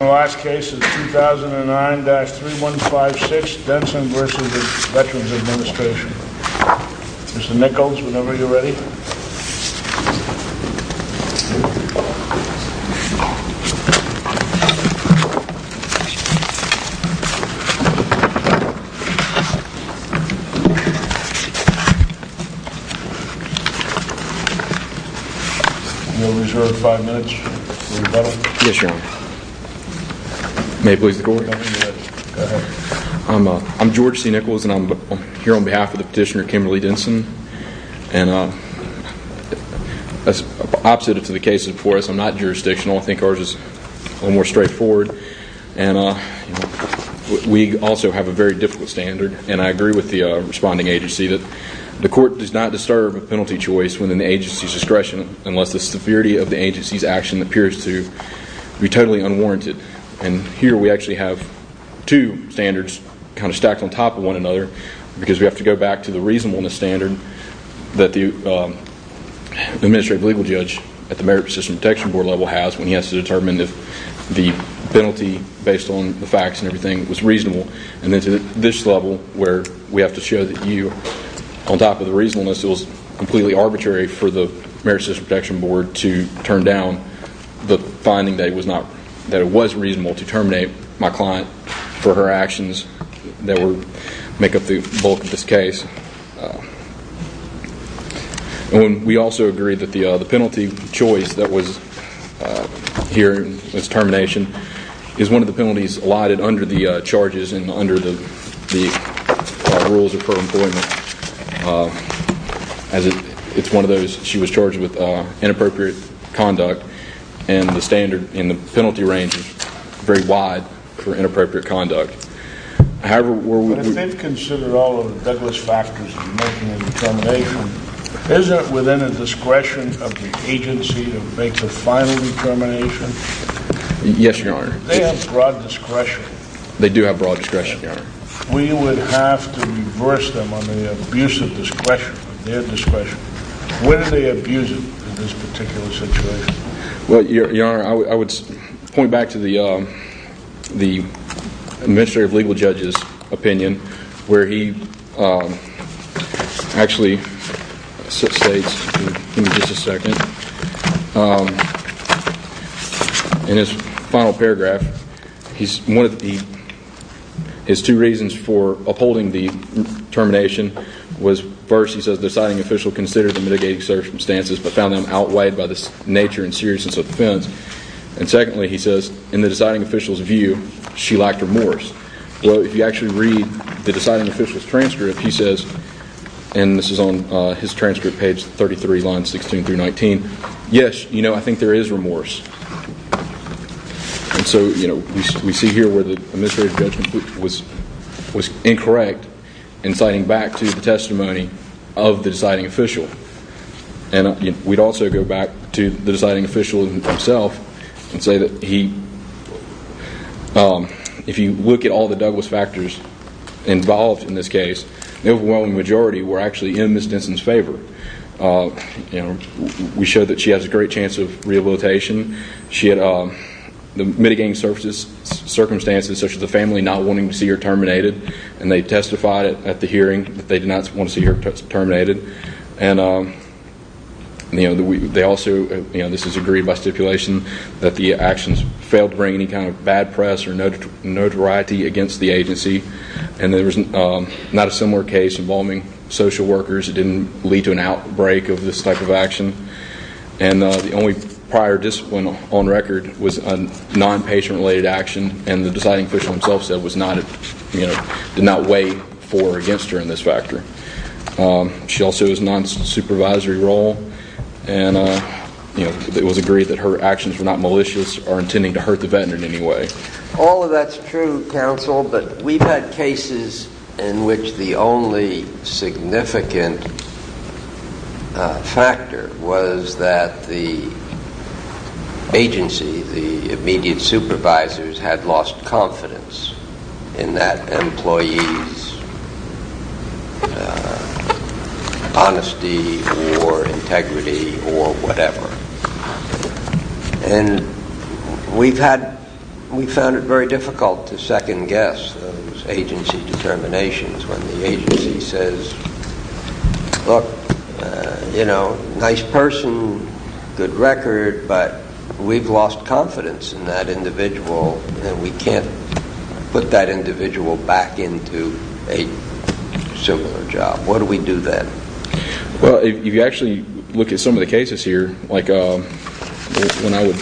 The last case is 2009-3156, Denson v. Veterans Administration. Mr. Nichols, whenever you're ready. You're reserved five minutes. Yes, Your Honor. May it please the Court? Go ahead. I'm George C. Nichols, and I'm here on behalf of the petitioner, Kimberly Denson. And as opposite to the cases before us, I'm not jurisdictional. I think ours is a little more straightforward. And we also have a very difficult standard. And I agree with the responding agency that the court does not disturb a penalty choice within the agency's discretion unless the severity of the agency's action appears to be totally unwarranted. And here we actually have two standards kind of stacked on top of one another because we have to go back to the reasonableness standard that the administrative legal judge at the Merit Persistence Detection Board level has when he has to determine if the penalty, based on the facts and everything, was reasonable, and then to this level where we have to show that you, on top of the reasonableness, it was completely arbitrary for the Merit Persistence Detection Board to turn down the finding that it was reasonable to terminate my client for her actions that make up the bulk of this case. And we also agree that the penalty choice that was here in its termination is one of the penalties allotted under the charges and under the rules of her employment. It's one of those she was charged with inappropriate conduct, and the standard in the penalty range is very wide for inappropriate conduct. However, were we to... But if they've considered all of the deadless factors of making a determination, is it within the discretion of the agency to make the final determination? Yes, Your Honor. They have broad discretion. They do have broad discretion, Your Honor. We would have to reverse them on the abuse of discretion, their discretion. Where do they abuse it in this particular situation? Well, Your Honor, I would point back to the administrative legal judge's opinion, where he actually states, give me just a second, in his final paragraph, his two reasons for upholding the termination was first, he says, the deciding official considered the mitigating circumstances but found them outweighed by the nature and seriousness of the offense. And secondly, he says, in the deciding official's view, she lacked remorse. Well, if you actually read the deciding official's transcript, he says, and this is on his transcript, page 33, lines 16 through 19, yes, you know, I think there is remorse. And so, you know, we see here where the administrative judge was incorrect in citing back to the testimony of the deciding official. And we'd also go back to the deciding official himself and say that he, if you look at all the Douglas factors involved in this case, the overwhelming majority were actually in Ms. Denson's favor. We showed that she has a great chance of rehabilitation. She had mitigating circumstances, such as the family not wanting to see her terminated, and they testified at the hearing that they did not want to see her terminated. And, you know, they also, you know, this is agreed by stipulation, that the actions failed to bring any kind of bad press or notoriety against the agency. And there was not a similar case involving social workers. It didn't lead to an outbreak of this type of action. And the only prior discipline on record was a non-patient-related action, and the deciding official himself said was not, you know, did not weigh for or against her in this factor. She also has a non-supervisory role. And, you know, it was agreed that her actions were not malicious or intending to hurt the veteran in any way. All of that's true, counsel, but we've had cases in which the only significant factor was that the agency, the immediate supervisors had lost confidence in that employee's honesty or integrity or whatever. And we've had, we found it very difficult to second guess those agency determinations when the agency says, look, you know, nice person, good record, but we've lost confidence in that individual, and we can't put that individual back into a similar job. What do we do then? Well, if you actually look at some of the cases here, like when I would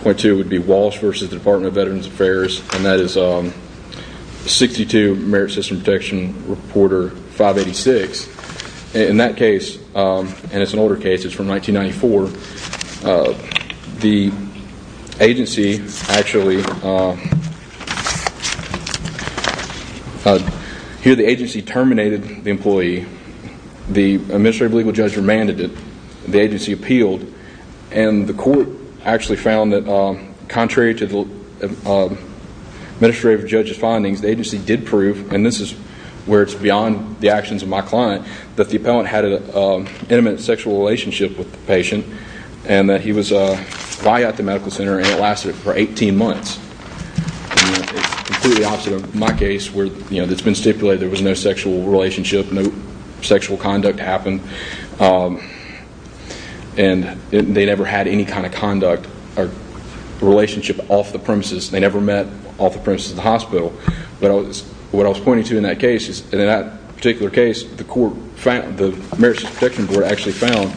point to it would be Walsh v. Department of Veterans Affairs, and that is 62 Merit System Protection Reporter 586. In that case, and it's an older case, it's from 1994, the agency actually, here the agency terminated the employee, the administrative legal judge remanded it, the agency appealed, and the court actually found that contrary to the administrative judge's findings, the agency did prove, and this is where it's beyond the actions of my client, that the appellant had an intimate sexual relationship with the patient and that he was quiet at the medical center and it lasted for 18 months. It's completely opposite of my case where it's been stipulated there was no sexual relationship, no sexual conduct happened, and they never had any kind of conduct or relationship off the premises. They never met off the premises of the hospital. But what I was pointing to in that case, in that particular case, the Merit System Protection Board actually found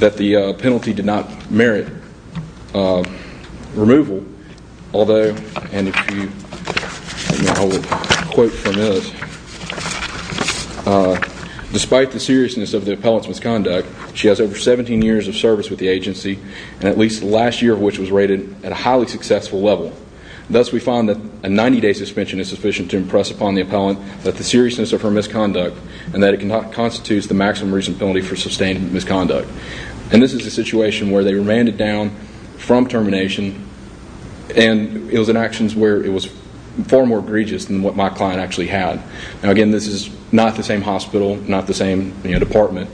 that the penalty did not merit removal, although, and I will quote from this, despite the seriousness of the appellant's misconduct, she has over 17 years of service with the agency, and at least the last year of which was rated at a highly successful level. Thus, we find that a 90-day suspension is sufficient to impress upon the appellant that the seriousness of her misconduct and that it constitutes the maximum reason penalty for sustained misconduct. And this is a situation where they remanded down from termination and it was in actions where it was far more egregious than what my client actually had. Now, again, this is not the same hospital, not the same department,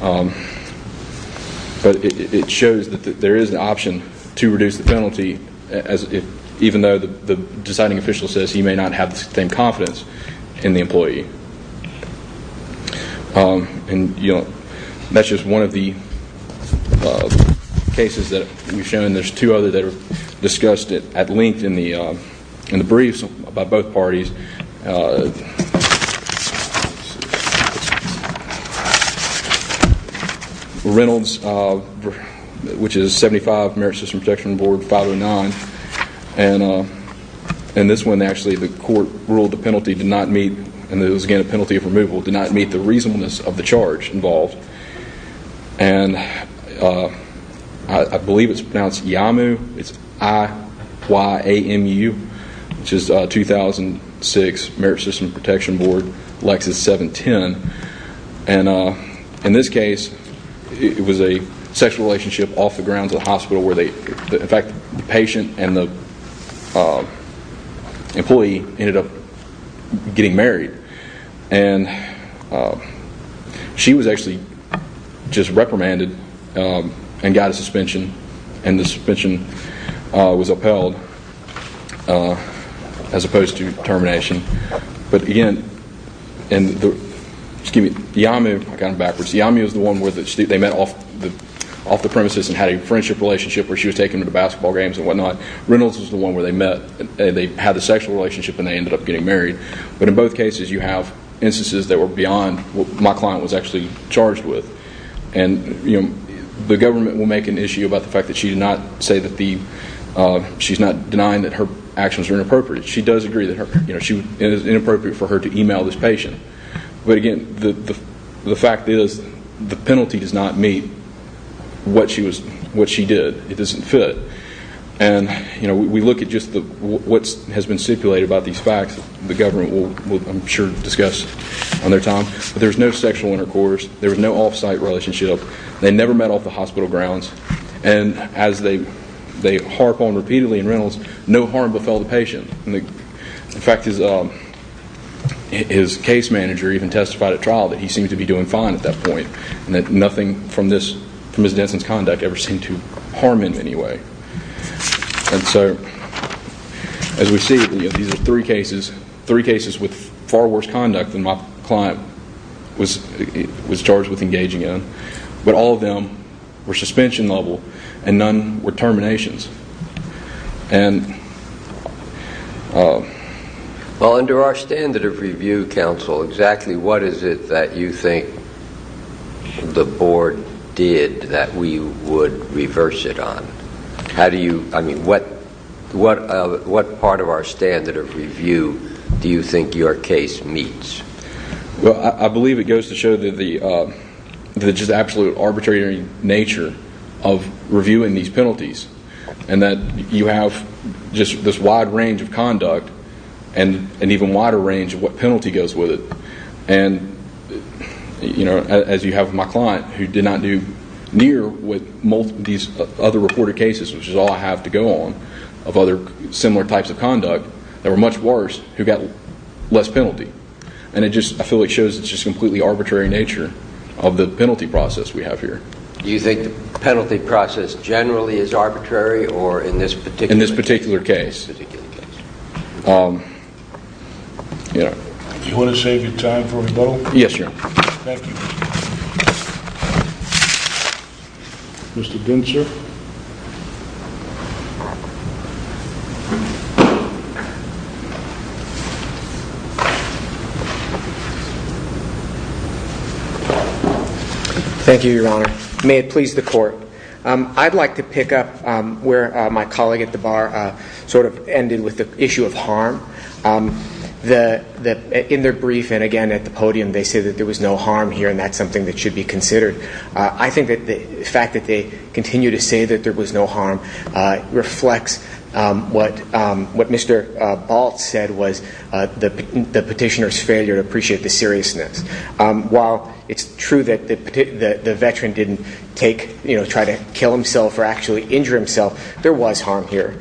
but it shows that there is an option to reduce the penalty, even though the deciding official says he may not have the same confidence in the employee. And that's just one of the cases that we've shown. There's two others that are discussed at length in the briefs by both parties. There's Reynolds, which is 75 Merit System Protection Board 509, and this one actually the court ruled the penalty did not meet, and it was again a penalty of removal, did not meet the reasonableness of the charge involved. And I believe it's pronounced Yamu, it's I-Y-A-M-U, which is 2006 Merit System Protection Board Lexus 710. And in this case, it was a sexual relationship off the grounds of the hospital where in fact the patient and the employee ended up getting married. And she was actually just reprimanded and got a suspension, and the suspension was upheld as opposed to termination. But again, Yamu was the one where they met off the premises and had a friendship relationship where she was taking him to basketball games and whatnot. Reynolds was the one where they met and they had a sexual relationship and they ended up getting married. But in both cases you have instances that were beyond what my client was actually charged with. And the government will make an issue about the fact that she did not say that the, she's not denying that her actions were inappropriate. She does agree that it is inappropriate for her to email this patient. But again, the fact is the penalty does not meet what she did. It doesn't fit. And we look at just what has been stipulated about these facts. The government will, I'm sure, discuss on their time. But there was no sexual intercourse. There was no off-site relationship. They never met off the hospital grounds. And as they harp on repeatedly in Reynolds, no harm befell the patient. In fact, his case manager even testified at trial that he seemed to be doing fine at that point and that nothing from Ms. Denson's conduct ever seemed to harm him in any way. And so as we see, these are three cases, three cases with far worse conduct than my client was charged with engaging in. But all of them were suspension level and none were terminations. Well, under our standard of review, counsel, exactly what is it that you think the board did that we would reverse it on? How do you, I mean, what part of our standard of review do you think your case meets? Well, I believe it goes to show the just absolute arbitrary nature of reviewing these penalties and that you have just this wide range of conduct and an even wider range of what penalty goes with it. And, you know, as you have with my client, who did not do near with these other reported cases, which is all I have to go on, of other similar types of conduct, there were much worse who got less penalty. And it just, I feel like it shows it's just completely arbitrary nature of the penalty process we have here. Do you think the penalty process generally is arbitrary or in this particular case? Do you want to save your time for rebuttal? Yes, Your Honor. Thank you. Mr. Gintzer. Thank you, Your Honor. May it please the court. I'd like to pick up where my colleague at the bar sort of ended with the issue of harm. In their brief, and again at the podium, they say that there was no harm here, and that's something that should be considered. I think that the fact that they continue to say that there was no harm reflects what Mr. Baltz said was the petitioner's failure to appreciate the seriousness. While it's true that the veteran didn't take, you know, try to kill himself or actually injure himself, there was harm here.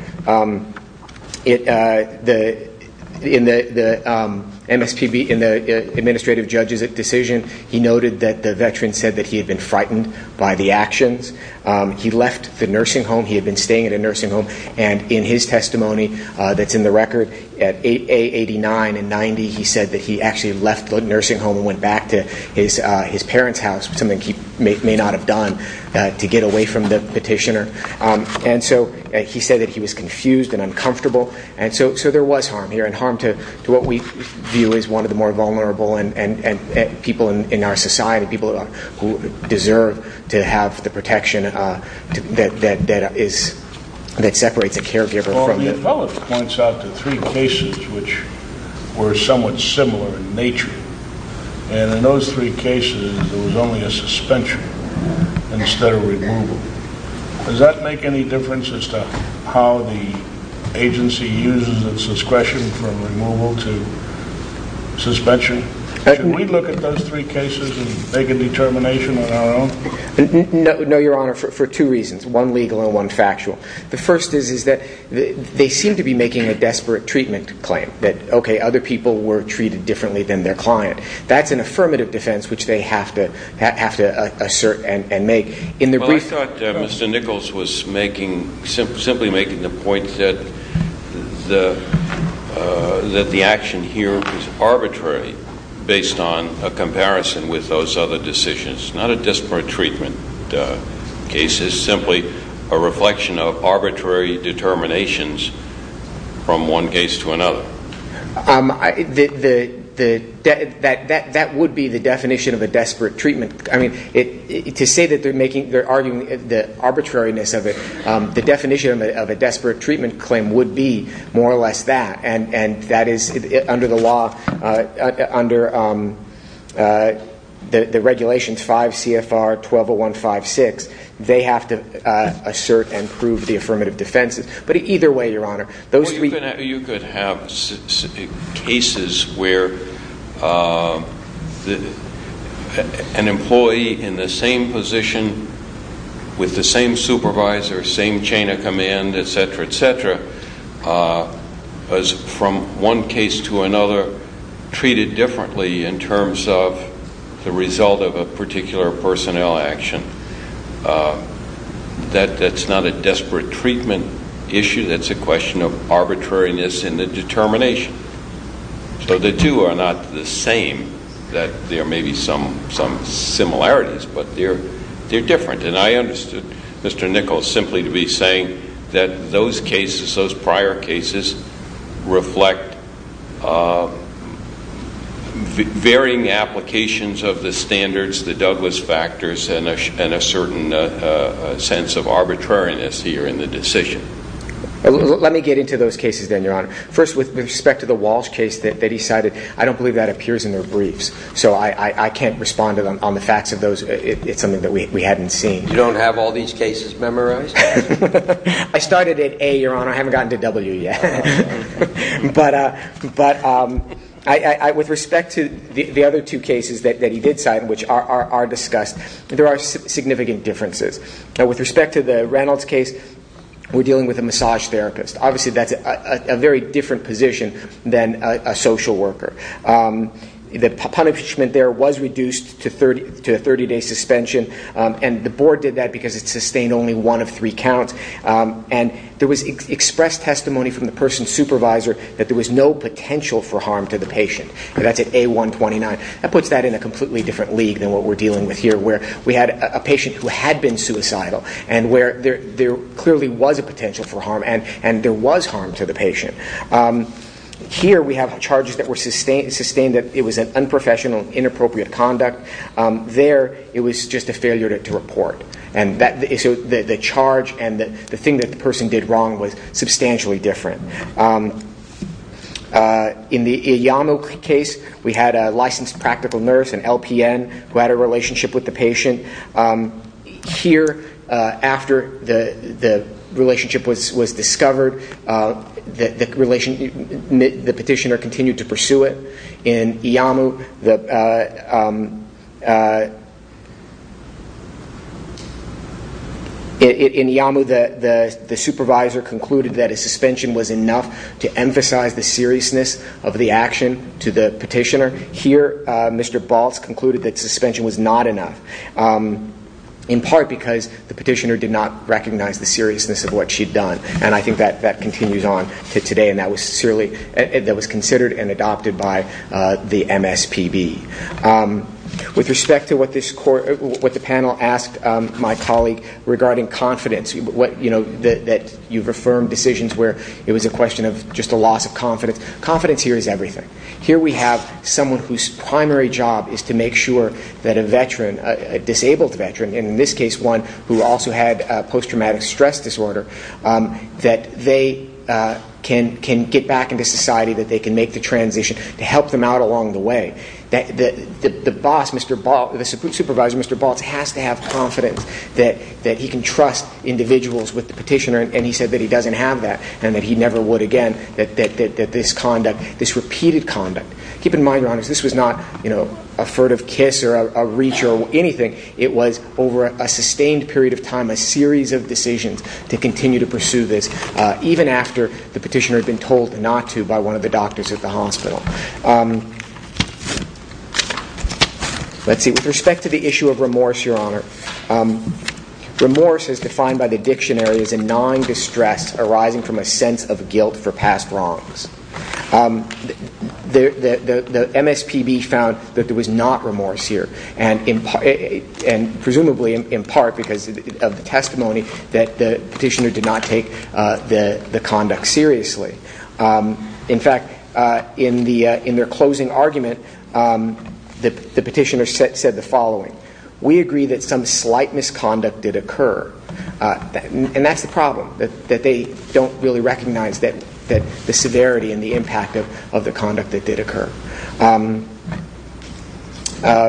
In the MSPB, in the administrative judge's decision, he noted that the veteran said that he had been frightened by the actions. He left the nursing home. He had been staying at a nursing home, and in his testimony that's in the record, at A89 and 90, he said that he actually left the nursing home and went back to his parents' house, something he may not have done to get away from the petitioner. And so he said that he was confused and uncomfortable. And so there was harm here, and harm to what we view as one of the more vulnerable people in our society, points out to three cases which were somewhat similar in nature. And in those three cases, there was only a suspension instead of removal. Does that make any difference as to how the agency uses its discretion from removal to suspension? Should we look at those three cases and make a determination on our own? No, Your Honor, for two reasons, one legal and one factual. The first is that they seem to be making a desperate treatment claim, that, okay, other people were treated differently than their client. That's an affirmative defense which they have to assert and make. Well, I thought Mr. Nichols was simply making the point that the action here was arbitrary based on a comparison with those other decisions, not a desperate treatment case. This is simply a reflection of arbitrary determinations from one case to another. That would be the definition of a desperate treatment. I mean, to say that they're arguing the arbitrariness of it, the definition of a desperate treatment claim would be more or less that, and that is under the law, under the regulations 5 CFR 120156, they have to assert and prove the affirmative defense. But either way, Your Honor, those three- Or you could have cases where an employee in the same position with the same supervisor, same chain of command, et cetera, et cetera, was from one case to another treated differently in terms of the result of a particular personnel action. That's not a desperate treatment issue. That's a question of arbitrariness in the determination. So the two are not the same, that there may be some similarities, but they're different. And I understood Mr. Nichols simply to be saying that those cases, those prior cases, reflect varying applications of the standards, the Douglas factors, and a certain sense of arbitrariness here in the decision. Let me get into those cases then, Your Honor. First, with respect to the Walsh case that he cited, I don't believe that appears in their briefs, so I can't respond to them on the facts of those. It's something that we hadn't seen. You don't have all these cases memorized? I started at A, Your Honor. I haven't gotten to W yet. But with respect to the other two cases that he did cite, which are discussed, there are significant differences. With respect to the Reynolds case, we're dealing with a massage therapist. Obviously, that's a very different position than a social worker. The punishment there was reduced to a 30-day suspension, and the board did that because it sustained only one of three counts. And there was expressed testimony from the person's supervisor that there was no potential for harm to the patient. That's at A129. That puts that in a completely different league than what we're dealing with here, where we had a patient who had been suicidal, and where there clearly was a potential for harm, and there was harm to the patient. Here, we have charges that were sustained that it was an unprofessional, inappropriate conduct. There, it was just a failure to report. And so the charge and the thing that the person did wrong was substantially different. In the Iyamu case, we had a licensed practical nurse, an LPN, who had a relationship with the patient. Here, after the relationship was discovered, the petitioner continued to pursue it. In Iyamu, the supervisor concluded that a suspension was enough to emphasize the seriousness of the action to the petitioner. Here, Mr. Baltz concluded that suspension was not enough, in part because the petitioner did not recognize the seriousness of what she'd done. And I think that continues on to today, and that was considered and adopted by the MSPB. With respect to what the panel asked my colleague regarding confidence, that you've affirmed decisions where it was a question of just a loss of confidence. Confidence here is everything. Here, we have someone whose primary job is to make sure that a veteran, a disabled veteran, and in this case, one who also had post-traumatic stress disorder, that they can get back into society, that they can make the transition to help them out along the way. The boss, Mr. Baltz, the supervisor, Mr. Baltz, has to have confidence that he can trust individuals with the petitioner, and he said that he doesn't have that and that he never would again, that this conduct, this repeated conduct. Keep in mind, Your Honors, this was not a furtive kiss or a reach or anything. It was, over a sustained period of time, a series of decisions to continue to pursue this, even after the petitioner had been told not to by one of the doctors at the hospital. Let's see. With respect to the issue of remorse, Your Honor, remorse is defined by the dictionary as a gnawing distress arising from a sense of guilt for past wrongs. The MSPB found that there was not remorse here, and presumably in part because of the testimony that the petitioner did not take the conduct seriously. In fact, in their closing argument, the petitioner said the following, we agree that some slight misconduct did occur, and that's the problem, that they don't really recognize the severity and the impact of the conduct that did occur.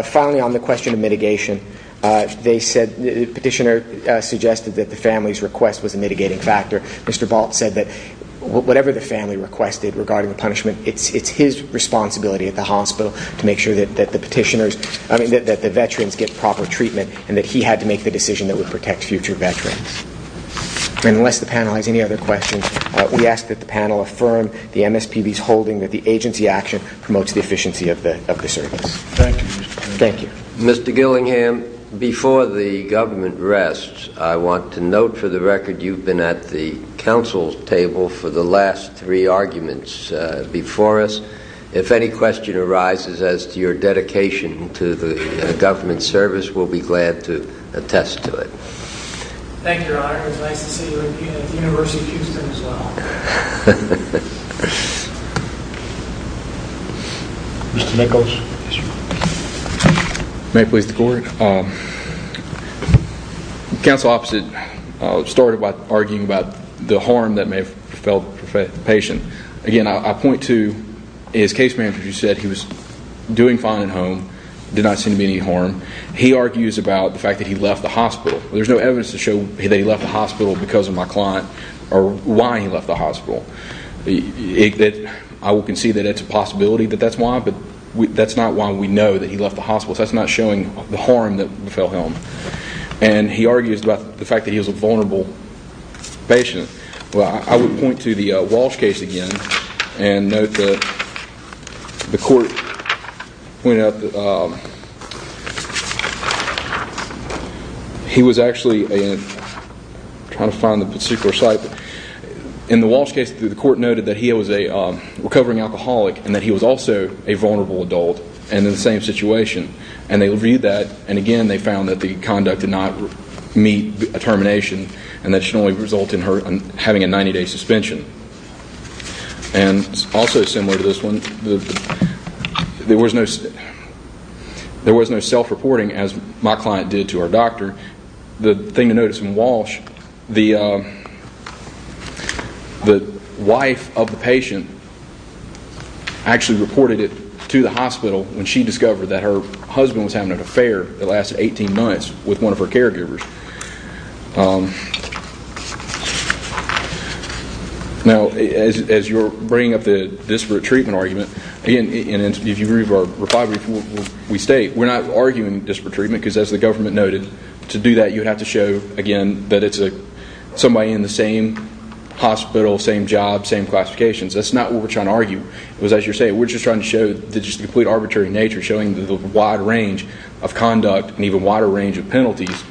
Finally, on the question of mitigation, the petitioner suggested that the family's request was a mitigating factor. Mr. Balt said that whatever the family requested regarding the punishment, it's his responsibility at the hospital to make sure that the veterans get proper treatment and that he had to make the decision that would protect future veterans. And unless the panel has any other questions, we ask that the panel affirm the MSPB's holding that the agency action promotes the efficiency of the service. Thank you, Mr. Chairman. Thank you. Mr. Gillingham, before the government rests, I want to note for the record you've been at the council's table for the last three arguments before us. If any question arises as to your dedication to the government service, we'll be glad to attest to it. Thank you, Your Honor. It was nice to see you at the University of Houston as well. Mr. Nichols. May it please the court. The counsel opposite started by arguing about the harm that may have felt to the patient. Again, I point to his case manager who said he was doing fine at home, there did not seem to be any harm. He argues about the fact that he left the hospital. There's no evidence to show that he left the hospital because of my client or why he left the hospital. I will concede that it's a possibility that that's why, but that's not why we know that he left the hospital. That's not showing the harm that fell him. And he argues about the fact that he was a vulnerable patient. I would point to the Walsh case again and note that the court pointed out that he was actually trying to find the particular site. In the Walsh case, the court noted that he was a recovering alcoholic and that he was also a vulnerable adult and in the same situation. And they reviewed that and again they found that the conduct did not meet determination and that should only result in her having a 90-day suspension. And also similar to this one, there was no self-reporting as my client did to our doctor. The thing to notice in Walsh, the wife of the patient actually reported it to the hospital when she discovered that her husband was having an affair that lasted 18 months with one of her caregivers. Now as you're bringing up the disparate treatment argument, and if you remove our reply before we state, we're not arguing disparate treatment because as the government noted, to do that you have to show again that it's somebody in the same hospital, same job, same classifications. That's not what we're trying to argue. It was as you're saying, we're just trying to show the complete arbitrary nature, showing the wide range of conduct and even wider range of penalties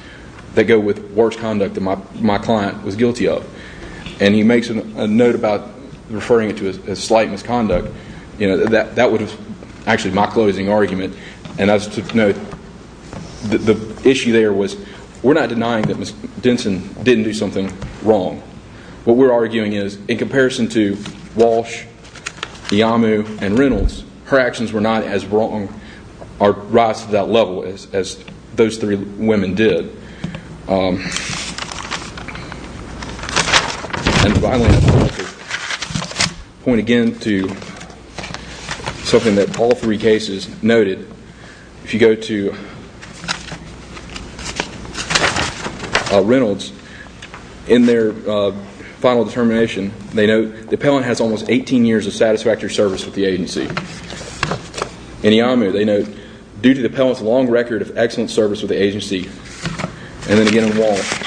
that go with worse conduct than my client was guilty of. And he makes a note about referring to it as slight misconduct. That was actually my closing argument. And the issue there was we're not denying that Ms. Denson didn't do something wrong. What we're arguing is in comparison to Walsh, Yamu, and Reynolds, her actions were not as wrong or rise to that level as those three women did. And finally, point again to something that all three cases noted. If you go to Reynolds, in their final determination, they note the appellant has almost 18 years of satisfactory service with the agency. In Yamu, they note, due to the appellant's long record of excellent service with the agency, and then again in Walsh,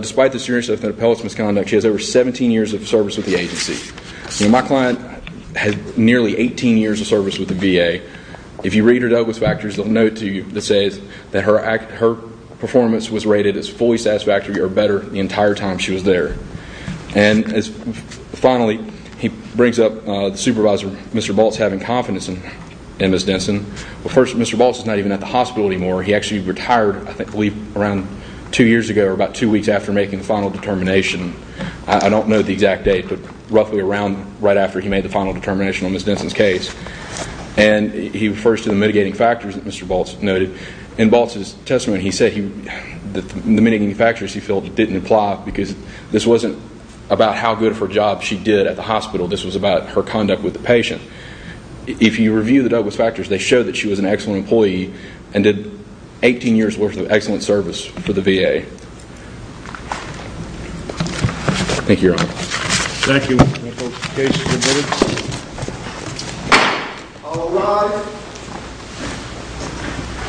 despite the seriousness of the appellant's misconduct, she has over 17 years of service with the agency. My client had nearly 18 years of service with the VA. If you read her Douglas factors, they'll note to you that says that her performance was rated as fully satisfactory or better the entire time she was there. And finally, he brings up the supervisor, Mr. Balts, having confidence in Ms. Denson. But first, Mr. Balts is not even at the hospital anymore. He actually retired, I believe, around two years ago, or about two weeks after making the final determination. I don't know the exact date, but roughly around right after he made the final determination on Ms. Denson's case. And he refers to the mitigating factors that Mr. Balts noted. In Balts' testimony, he said the mitigating factors he felt didn't apply because this wasn't about how good of a job she did at the hospital. This was about her conduct with the patient. If you review the Douglas factors, they show that she was an excellent employee and did 18 years worth of excellent service for the VA. Thank you, Your Honor. Thank you. All rise.